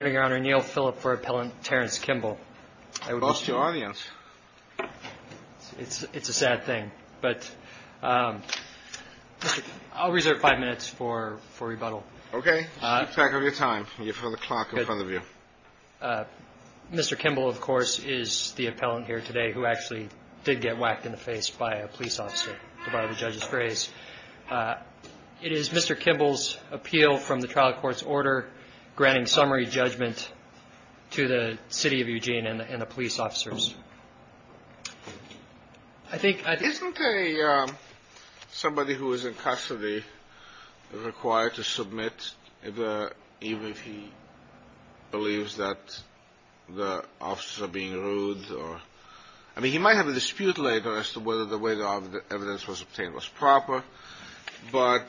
Appeal from the Trial Courts Order granting summary judge to Mr. Kimble v. Eugene Police Dept. Isn't somebody who is in custody required to submit, even if he believes that the officers are being rude? I mean, he might have a dispute later as to whether the way the evidence was obtained was proper, but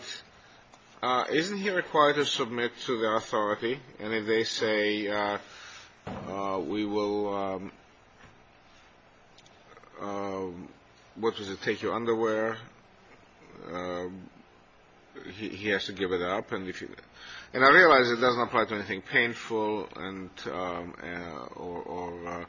isn't he required to submit to the authority? And if they say, we will take your underwear, he has to give it up. And I realize it doesn't apply to anything painful or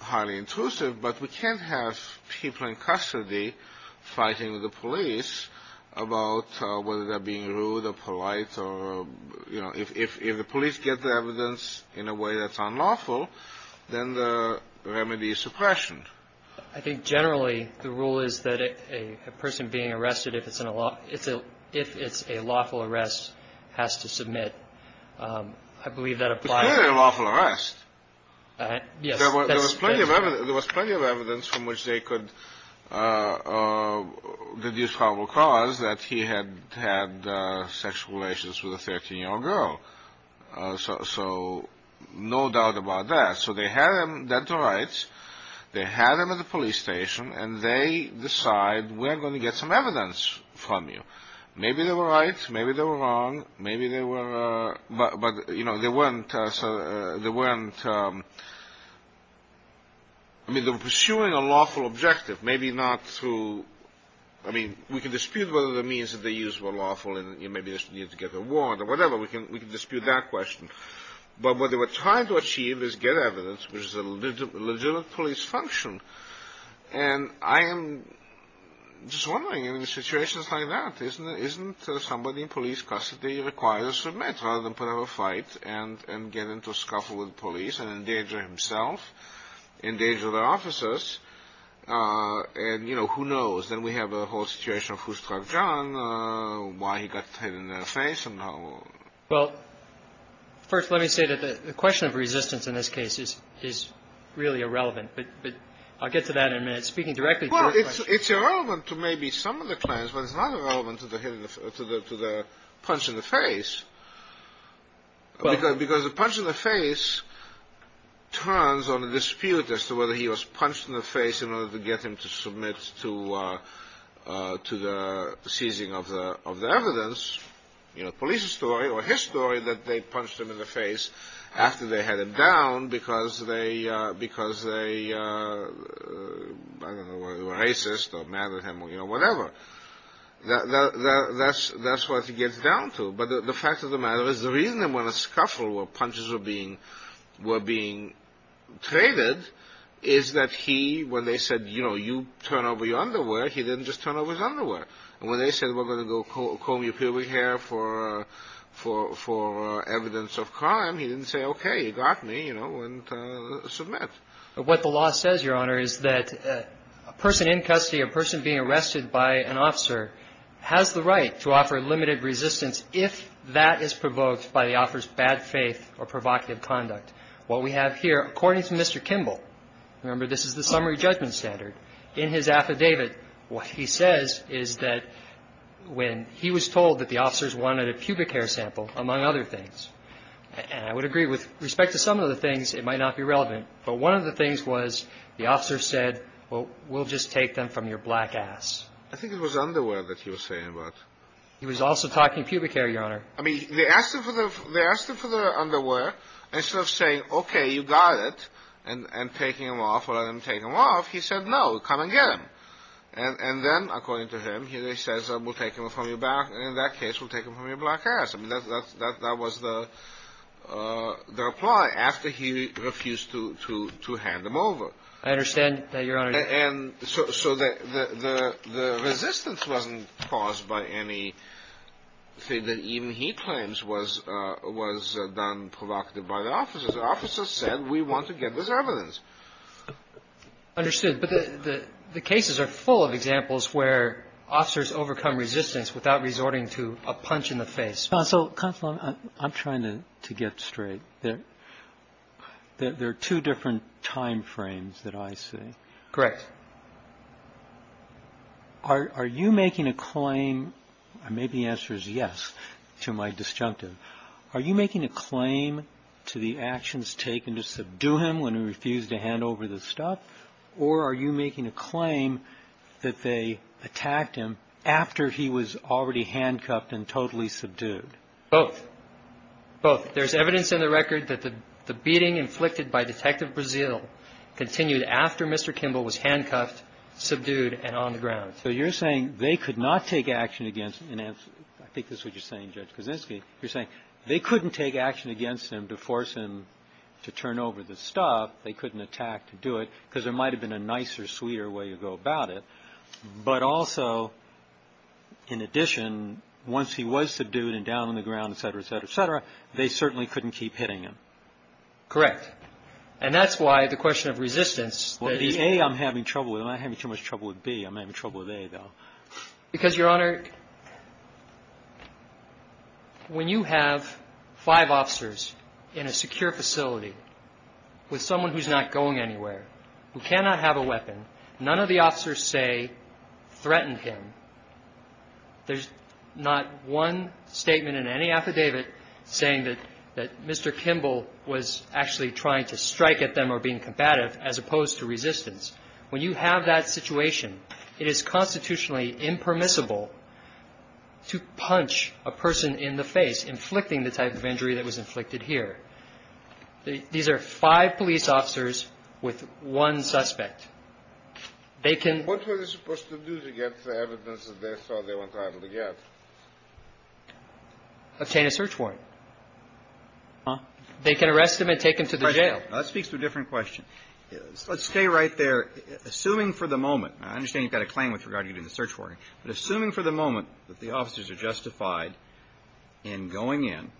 highly intrusive, but we can't have people in custody fighting with the police about whether they're being rude or polite or, you know, if the police get the evidence in a way that's unlawful, then the remedy is suppression. I think generally the rule is that a person being arrested, if it's a lawful arrest, has to submit. I believe that applies. It's clearly a lawful arrest. There was plenty of evidence from which they could deduce probable cause that he had had sex relations with a 13-year-old girl. So no doubt about that. So they had him dead to rights. They had him at the police station, and they decide, we're going to get some evidence from you. Maybe they were right. Maybe they were wrong. Maybe they were, but, you know, they weren't, I mean, they were pursuing a lawful objective. Maybe not through, I mean, we can dispute whether the means that they used were lawful, and maybe they just needed to get a warrant or whatever. We can dispute that question. But what they were trying to achieve is get evidence, which is a legitimate police function. And I am just wondering, in situations like that, isn't somebody in police custody required to submit rather than put up a fight and get into a scuffle with the police and endanger himself, endanger their officers? And, you know, who knows? Then we have the whole situation of Fustrav John, why he got hit in the face. Well, first let me say that the question of resistance in this case is really irrelevant, but I'll get to that in a minute. Well, it's irrelevant to maybe some of the claims, but it's not irrelevant to the punch in the face. Because the punch in the face turns on a dispute as to whether he was punched in the face in order to get him to submit to the seizing of the evidence, you know, police story or his story that they punched him in the face after they had him down because they were racist or mad at him or, you know, whatever. That's what he gets down to. But the fact of the matter is the reason that when a scuffle or punches were being traded is that he, when they said, you know, you turn over your underwear, he didn't just turn over his underwear. And when they said, we're going to go comb your pubic hair for evidence of crime, he didn't say, okay, you got me, you know, and submit. But what the law says, Your Honor, is that a person in custody, a person being arrested by an officer has the right to offer limited resistance if that is provoked by the officer's bad faith or provocative conduct. What we have here, according to Mr. Kimball, remember, this is the summary judgment standard in his affidavit. What he says is that when he was told that the officers wanted a pubic hair sample, among other things, and I would agree with respect to some of the things, it might not be relevant. But one of the things was the officer said, well, we'll just take them from your black ass. I think it was underwear that he was saying about. He was also talking pubic hair, Your Honor. I mean, they asked him for the underwear. Instead of saying, okay, you got it, and taking them off or letting them take them off, he said, no, come and get them. And then, according to him, he says, we'll take them from your back, and in that case, we'll take them from your black ass. I mean, that was the reply after he refused to hand them over. I understand that, Your Honor. And so the resistance wasn't caused by anything that even he claims was done provocative by the officers. The officers said, we want to get this evidence. Understood. But the cases are full of examples where officers overcome resistance without resorting to a punch in the face. Counsel, I'm trying to get straight. There are two different time frames that I see. Correct. Are you making a claim? Maybe the answer is yes to my disjunctive. Are you making a claim to the actions taken to subdue him when he refused to hand over the stuff? Or are you making a claim that they attacked him after he was already handcuffed and totally subdued? Both. Both. There's evidence in the record that the beating inflicted by Detective Brazile continued after Mr. Kimball was handcuffed, subdued, and on the ground. So you're saying they could not take action against him. I think this is what you're saying, Judge Kaczynski. You're saying they couldn't take action against him to force him to turn over the stuff. They couldn't attack to do it because there might have been a nicer, sweeter way to go about it. But also, in addition, once he was subdued and down on the ground, et cetera, et cetera, et cetera, they certainly couldn't keep hitting him. Correct. And that's why the question of resistance. Well, it's A I'm having trouble with. I'm not having too much trouble with B. I'm having trouble with A, though. Because, Your Honor, when you have five officers in a secure facility with someone who's not going anywhere, who cannot have a weapon, none of the officers say threatened him. There's not one statement in any affidavit saying that Mr. Kimball was actually trying to strike at them or being combative, as opposed to resistance. When you have that situation, it is constitutionally impermissible to punch a person in the face, inflicting the type of injury that was inflicted here. These are five police officers with one suspect. They can — What were they supposed to do to get the evidence that they thought they weren't able to get? Obtain a search warrant. Huh? They can arrest him and take him to the jail. That speaks to a different question. Let's stay right there. Assuming for the moment — I understand you've got a claim with regard to getting a search warrant. But assuming for the moment that the officers are justified in going in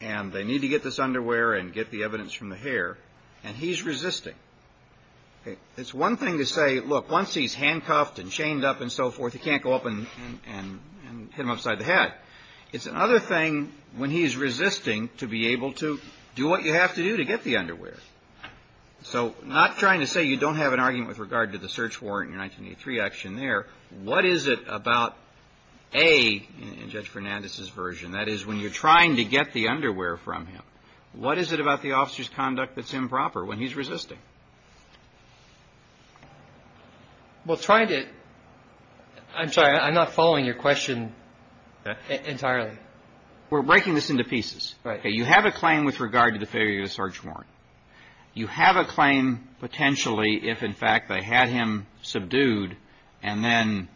and they need to get this underwear and get the evidence from the hair, and he's resisting. It's one thing to say, look, once he's handcuffed and chained up and so forth, he can't go up and hit him upside the head. It's another thing when he's resisting to be able to do what you have to do to get the underwear. So not trying to say you don't have an argument with regard to the search warrant in your 1983 action there. What is it about, A, in Judge Fernandez's version, that is, when you're trying to get the underwear from him? What is it about the officer's conduct that's improper when he's resisting? Well, trying to — I'm sorry. I'm not following your question entirely. We're breaking this into pieces. Right. You have a claim with regard to the failure of the search warrant. You have a claim potentially if, in fact, they had him subdued and then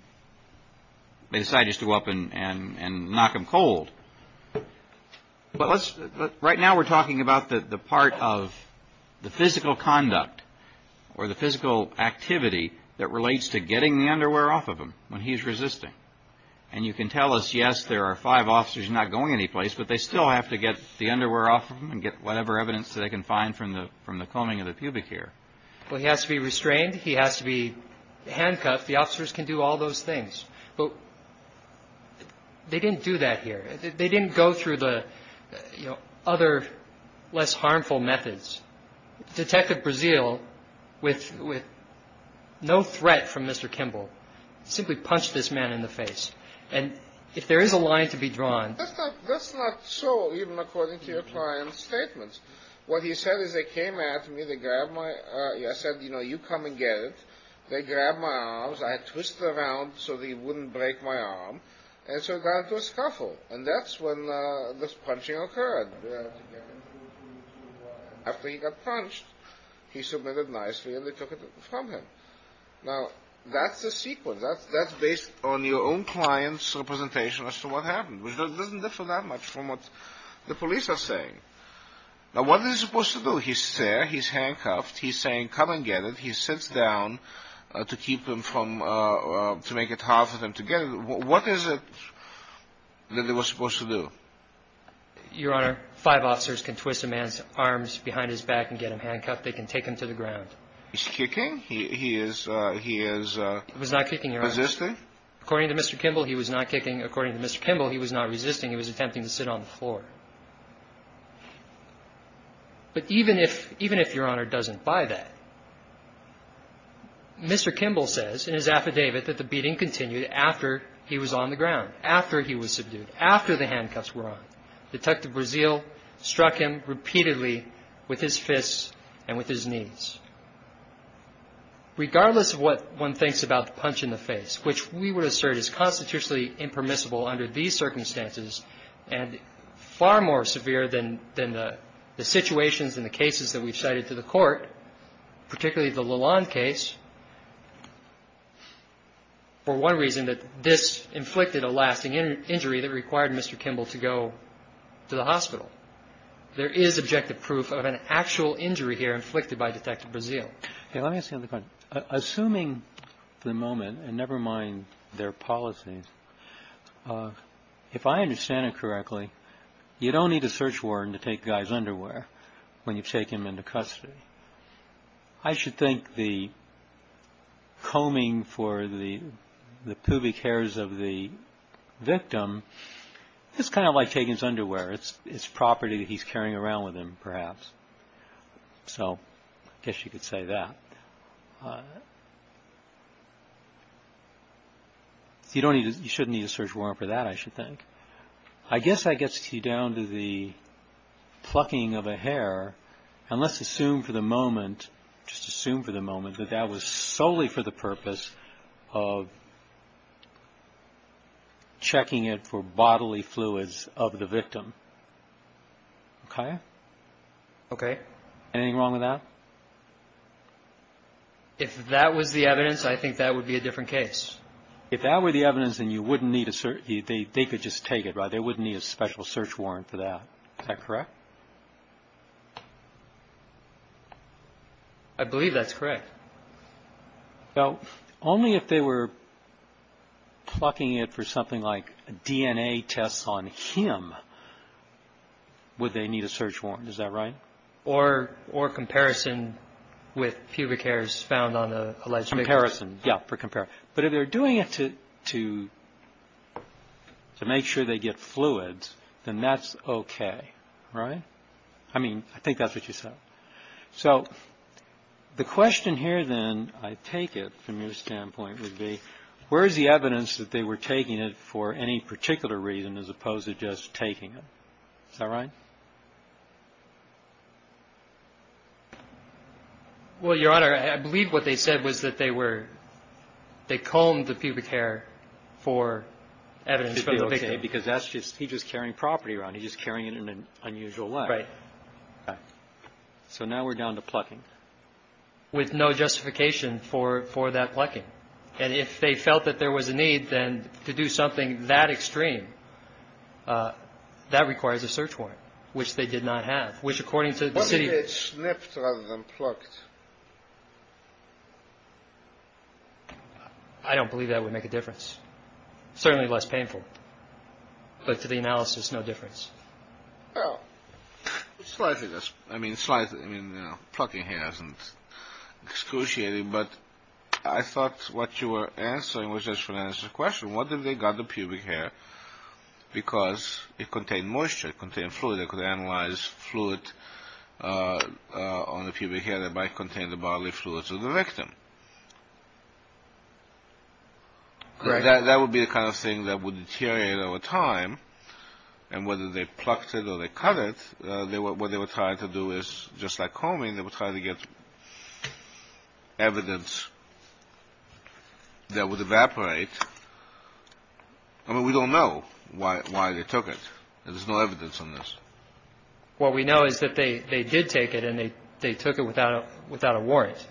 they decided to go up and knock him cold. Right now we're talking about the part of the physical conduct or the physical activity that relates to getting the underwear off of him when he's resisting. And you can tell us, yes, there are five officers not going anyplace, but they still have to get the underwear off of him and get whatever evidence they can find from the combing of the pubic hair. Well, he has to be restrained. He has to be handcuffed. The officers can do all those things. But they didn't do that here. They didn't go through the other, less harmful methods. Detective Breazeal, with no threat from Mr. Kimball, simply punched this man in the face. And if there is a line to be drawn — That's not so, even according to your client's statements. What he said is they came at me. They grabbed my — I said, you know, you come and get it. They grabbed my arms. I twisted around so they wouldn't break my arm. And so it got into a scuffle. And that's when this punching occurred. After he got punched, he submitted nicely and they took it from him. Now, that's the sequence. That's based on your own client's representation as to what happened, which doesn't differ that much from what the police are saying. Now, what is he supposed to do? He's there. He's handcuffed. He's saying, come and get it. He sits down to keep him from — to make it hard for them to get it. What is it that they were supposed to do? Your Honor, five officers can twist a man's arms behind his back and get him handcuffed. They can take him to the ground. He's kicking? He is — He was not kicking, Your Honor. Resisting? According to Mr. Kimball, he was not kicking. According to Mr. Kimball, he was not resisting. He was attempting to sit on the floor. But even if — even if Your Honor doesn't buy that, Mr. Kimball says in his affidavit that the beating continued after he was on the ground, after he was subdued, after the handcuffs were on. Detective Breazeal struck him repeatedly with his fists and with his knees. Regardless of what one thinks about the punch in the face, which we would assert is constitutionally impermissible under these circumstances and far more severe than the situations and the cases that we've cited to the Court, particularly the Lalonde case, for one reason, that this inflicted a lasting injury that required Mr. Kimball to go to the hospital. There is objective proof of an actual injury here inflicted by Detective Breazeal. Let me ask you another question. Assuming for the moment, and never mind their policies, if I understand it correctly, you don't need a search warrant to take a guy's underwear when you take him into custody. I should think the combing for the pubic hairs of the victim is kind of like taking his underwear. It's property that he's carrying around with him, perhaps. So, I guess you could say that. You shouldn't need a search warrant for that, I should think. I guess that gets you down to the plucking of a hair, and let's assume for the moment, just assume for the moment that that was solely for the purpose of checking it for bodily fluids of the victim. Okay? Okay. Anything wrong with that? If that was the evidence, I think that would be a different case. If that were the evidence, then they could just take it, right? They wouldn't need a special search warrant for that. Is that correct? I believe that's correct. Now, only if they were plucking it for something like DNA tests on him would they need a search warrant. Is that right? Or comparison with pubic hairs found on an alleged victim. Comparison, yeah, for comparison. But if they're doing it to make sure they get fluids, then that's okay, right? I mean, I think that's what you said. So the question here, then, I take it from your standpoint would be, where is the evidence that they were taking it for any particular reason as opposed to just taking it? Is that right? Well, Your Honor, I believe what they said was that they were – they combed the pubic hair for evidence from the victim. Because that's just – he's just carrying property around. He's just carrying it in an unusual way. Right. So now we're down to plucking. With no justification for that plucking. And if they felt that there was a need, then to do something that extreme, that requires a search warrant, which they did not have. Which, according to the city – What if they had snipped rather than plucked? I don't believe that would make a difference. Certainly less painful. But to the analysis, no difference. Well, slightly. I mean, slightly. Plucking hair isn't excruciating. But I thought what you were answering was just an answer to the question. What if they got the pubic hair because it contained moisture? It contained fluid. They could analyze fluid on the pubic hair that might contain the bodily fluids of the victim. Correct. So that would be the kind of thing that would deteriorate over time. And whether they plucked it or they cut it, what they were trying to do is, just like combing, they were trying to get evidence that would evaporate. I mean, we don't know why they took it. There's no evidence on this. What we know is that they did take it, and they took it without a warrant.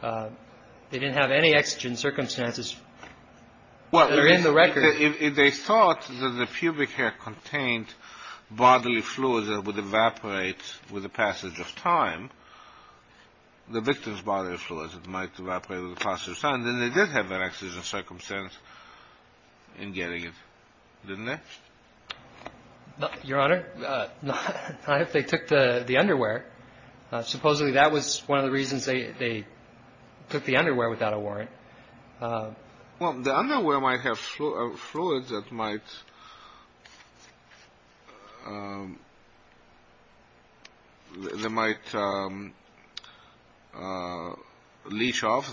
They didn't have any exigent circumstances that are in the record. Well, if they thought that the pubic hair contained bodily fluids that would evaporate with the passage of time, the victim's bodily fluids might evaporate with the passage of time, then they did have an exigent circumstance in getting it, didn't they? Your Honor, if they took the underwear, supposedly that was one of the reasons they took the underwear without a warrant. Well, the underwear might have fluids that might leach off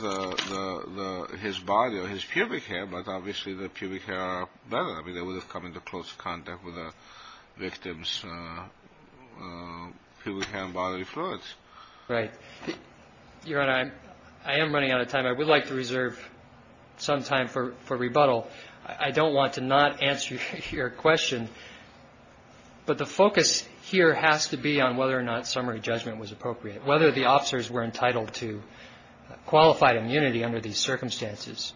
his body or his pubic hair, but obviously the pubic hair would have come into close contact with the victim's pubic hair, and the victim's bodily fluids. Right. Your Honor, I am running out of time. I would like to reserve some time for rebuttal. I don't want to not answer your question, but the focus here has to be on whether or not summary judgment was appropriate, whether the officers were entitled to qualified immunity under these circumstances.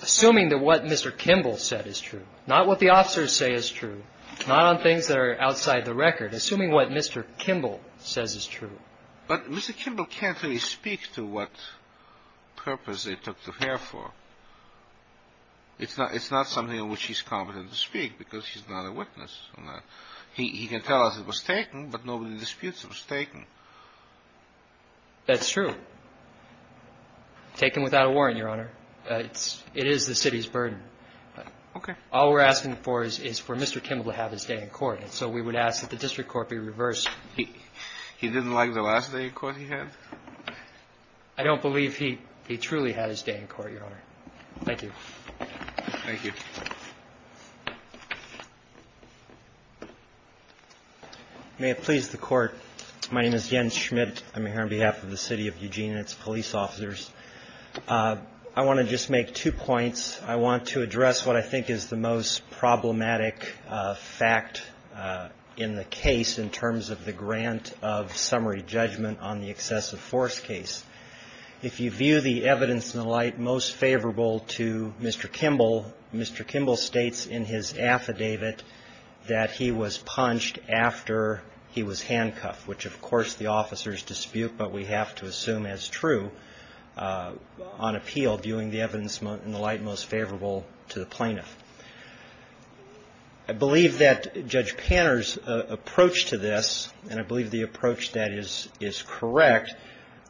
Assuming that what Mr. Kimball said is true, not what the officers say is true, not on things that are outside the record, assuming what Mr. Kimball says is true. But Mr. Kimball can't really speak to what purpose they took the hair for. It's not something in which he's competent to speak because he's not a witness. He can tell us it was taken, but nobody disputes it was taken. That's true. Taken without a warrant, Your Honor. It is the city's burden. Okay. All we're asking for is for Mr. Kimball to have his day in court, and so we would ask that the district court be reversed. He didn't like the last day in court he had? I don't believe he truly had his day in court, Your Honor. Thank you. Thank you. May it please the Court. My name is Yen Schmidt. I'm here on behalf of the City of Eugene and its police officers. I want to just make two points. I want to address what I think is the most problematic fact in the case in terms of the grant of summary judgment on the excessive force case. If you view the evidence in the light most favorable to Mr. Kimball, Mr. Kimball states in his affidavit that he was punched after he was handcuffed, which, of course, the officers dispute, but we have to assume as true on appeal, viewing the evidence in the light most favorable to the plaintiff. I believe that Judge Panner's approach to this, and I believe the approach that is correct,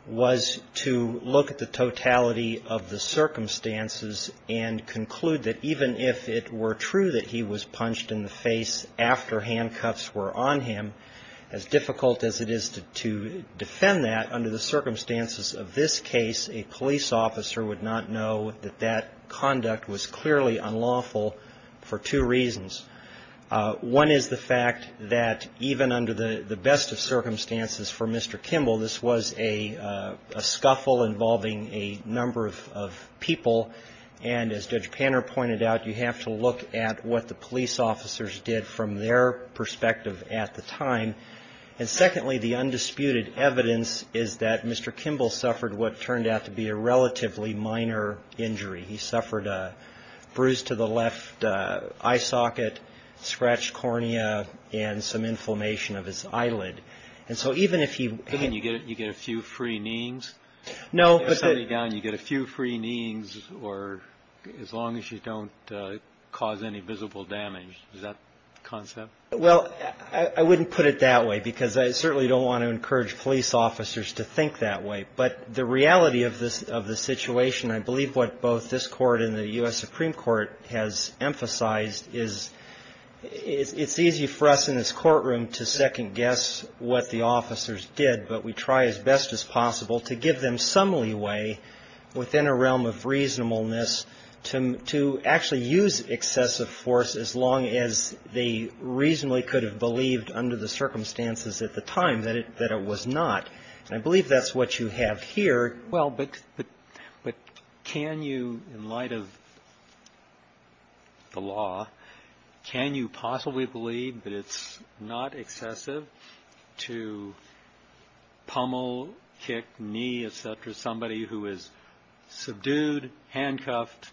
was to look at the totality of the circumstances and conclude that even if it were true that he was punched in the face after handcuffs were on him, as difficult as it is to defend that under the circumstances of this case, a police officer would not know that that conduct was clearly unlawful for two reasons. One is the fact that even under the best of circumstances for Mr. Kimball, this was a scuffle involving a number of people, and as Judge Panner pointed out, you have to look at what the police officers did from their perspective at the time. And secondly, the undisputed evidence is that Mr. Kimball suffered what turned out to be a relatively minor injury. He suffered a bruise to the left eye socket, scratched cornea, and some inflammation of his eyelid. And so even if he — I mean, you get a few free kneeings? No, but — You get a few free kneeings as long as you don't cause any visible damage. Is that the concept? Well, I wouldn't put it that way because I certainly don't want to encourage police officers to think that way. But the reality of the situation, I believe what both this Court and the U.S. Supreme Court has emphasized, is it's easy for us in this courtroom to second-guess what the officers did, but we try as best as possible to give them some leeway within a realm of reasonableness to actually use excessive force as long as they reasonably could have believed under the circumstances at the time that it was not. And I believe that's what you have here. Well, but can you, in light of the law, can you possibly believe that it's not excessive to pummel, kick, knee, et cetera, somebody who is subdued, handcuffed,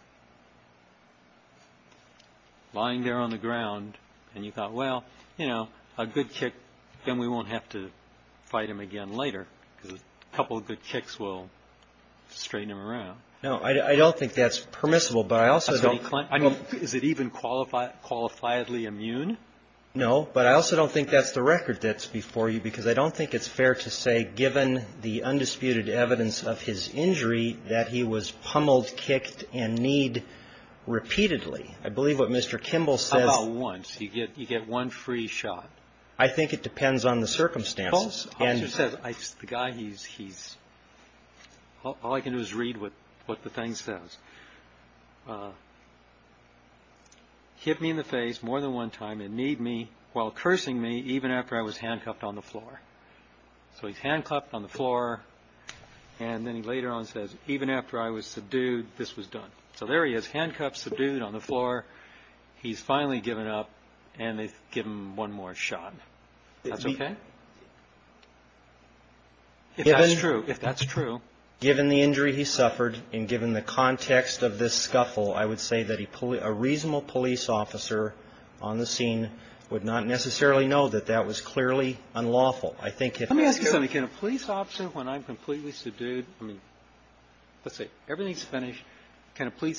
lying there on the ground, and you thought, well, you know, a good kick, then we won't have to fight him again later because a couple of good kicks will straighten him around? No. I don't think that's permissible. But I also don't. I mean, is it even qualifiably immune? No. But I also don't think that's the record that's before you because I don't think it's fair to say, given the undisputed evidence of his injury, that he was pummeled, kicked, and kneed repeatedly. I believe what Mr. Kimball says. How about once? You get one free shot. I think it depends on the circumstances. The guy, he's he's all I can do is read what what the thing says. Hit me in the face more than one time and need me while cursing me even after I was handcuffed on the floor. So he's handcuffed on the floor. And then he later on says, even after I was subdued, this was done. So there he is, handcuffed, subdued on the floor. He's finally given up and they give him one more shot. That's OK. If that's true, if that's true, given the injury he suffered and given the context of this scuffle, I would say that he put a reasonable police officer on the scene would not necessarily know that that was clearly unlawful. I think it can be a police officer when I'm completely subdued. I mean, let's say everything's finished.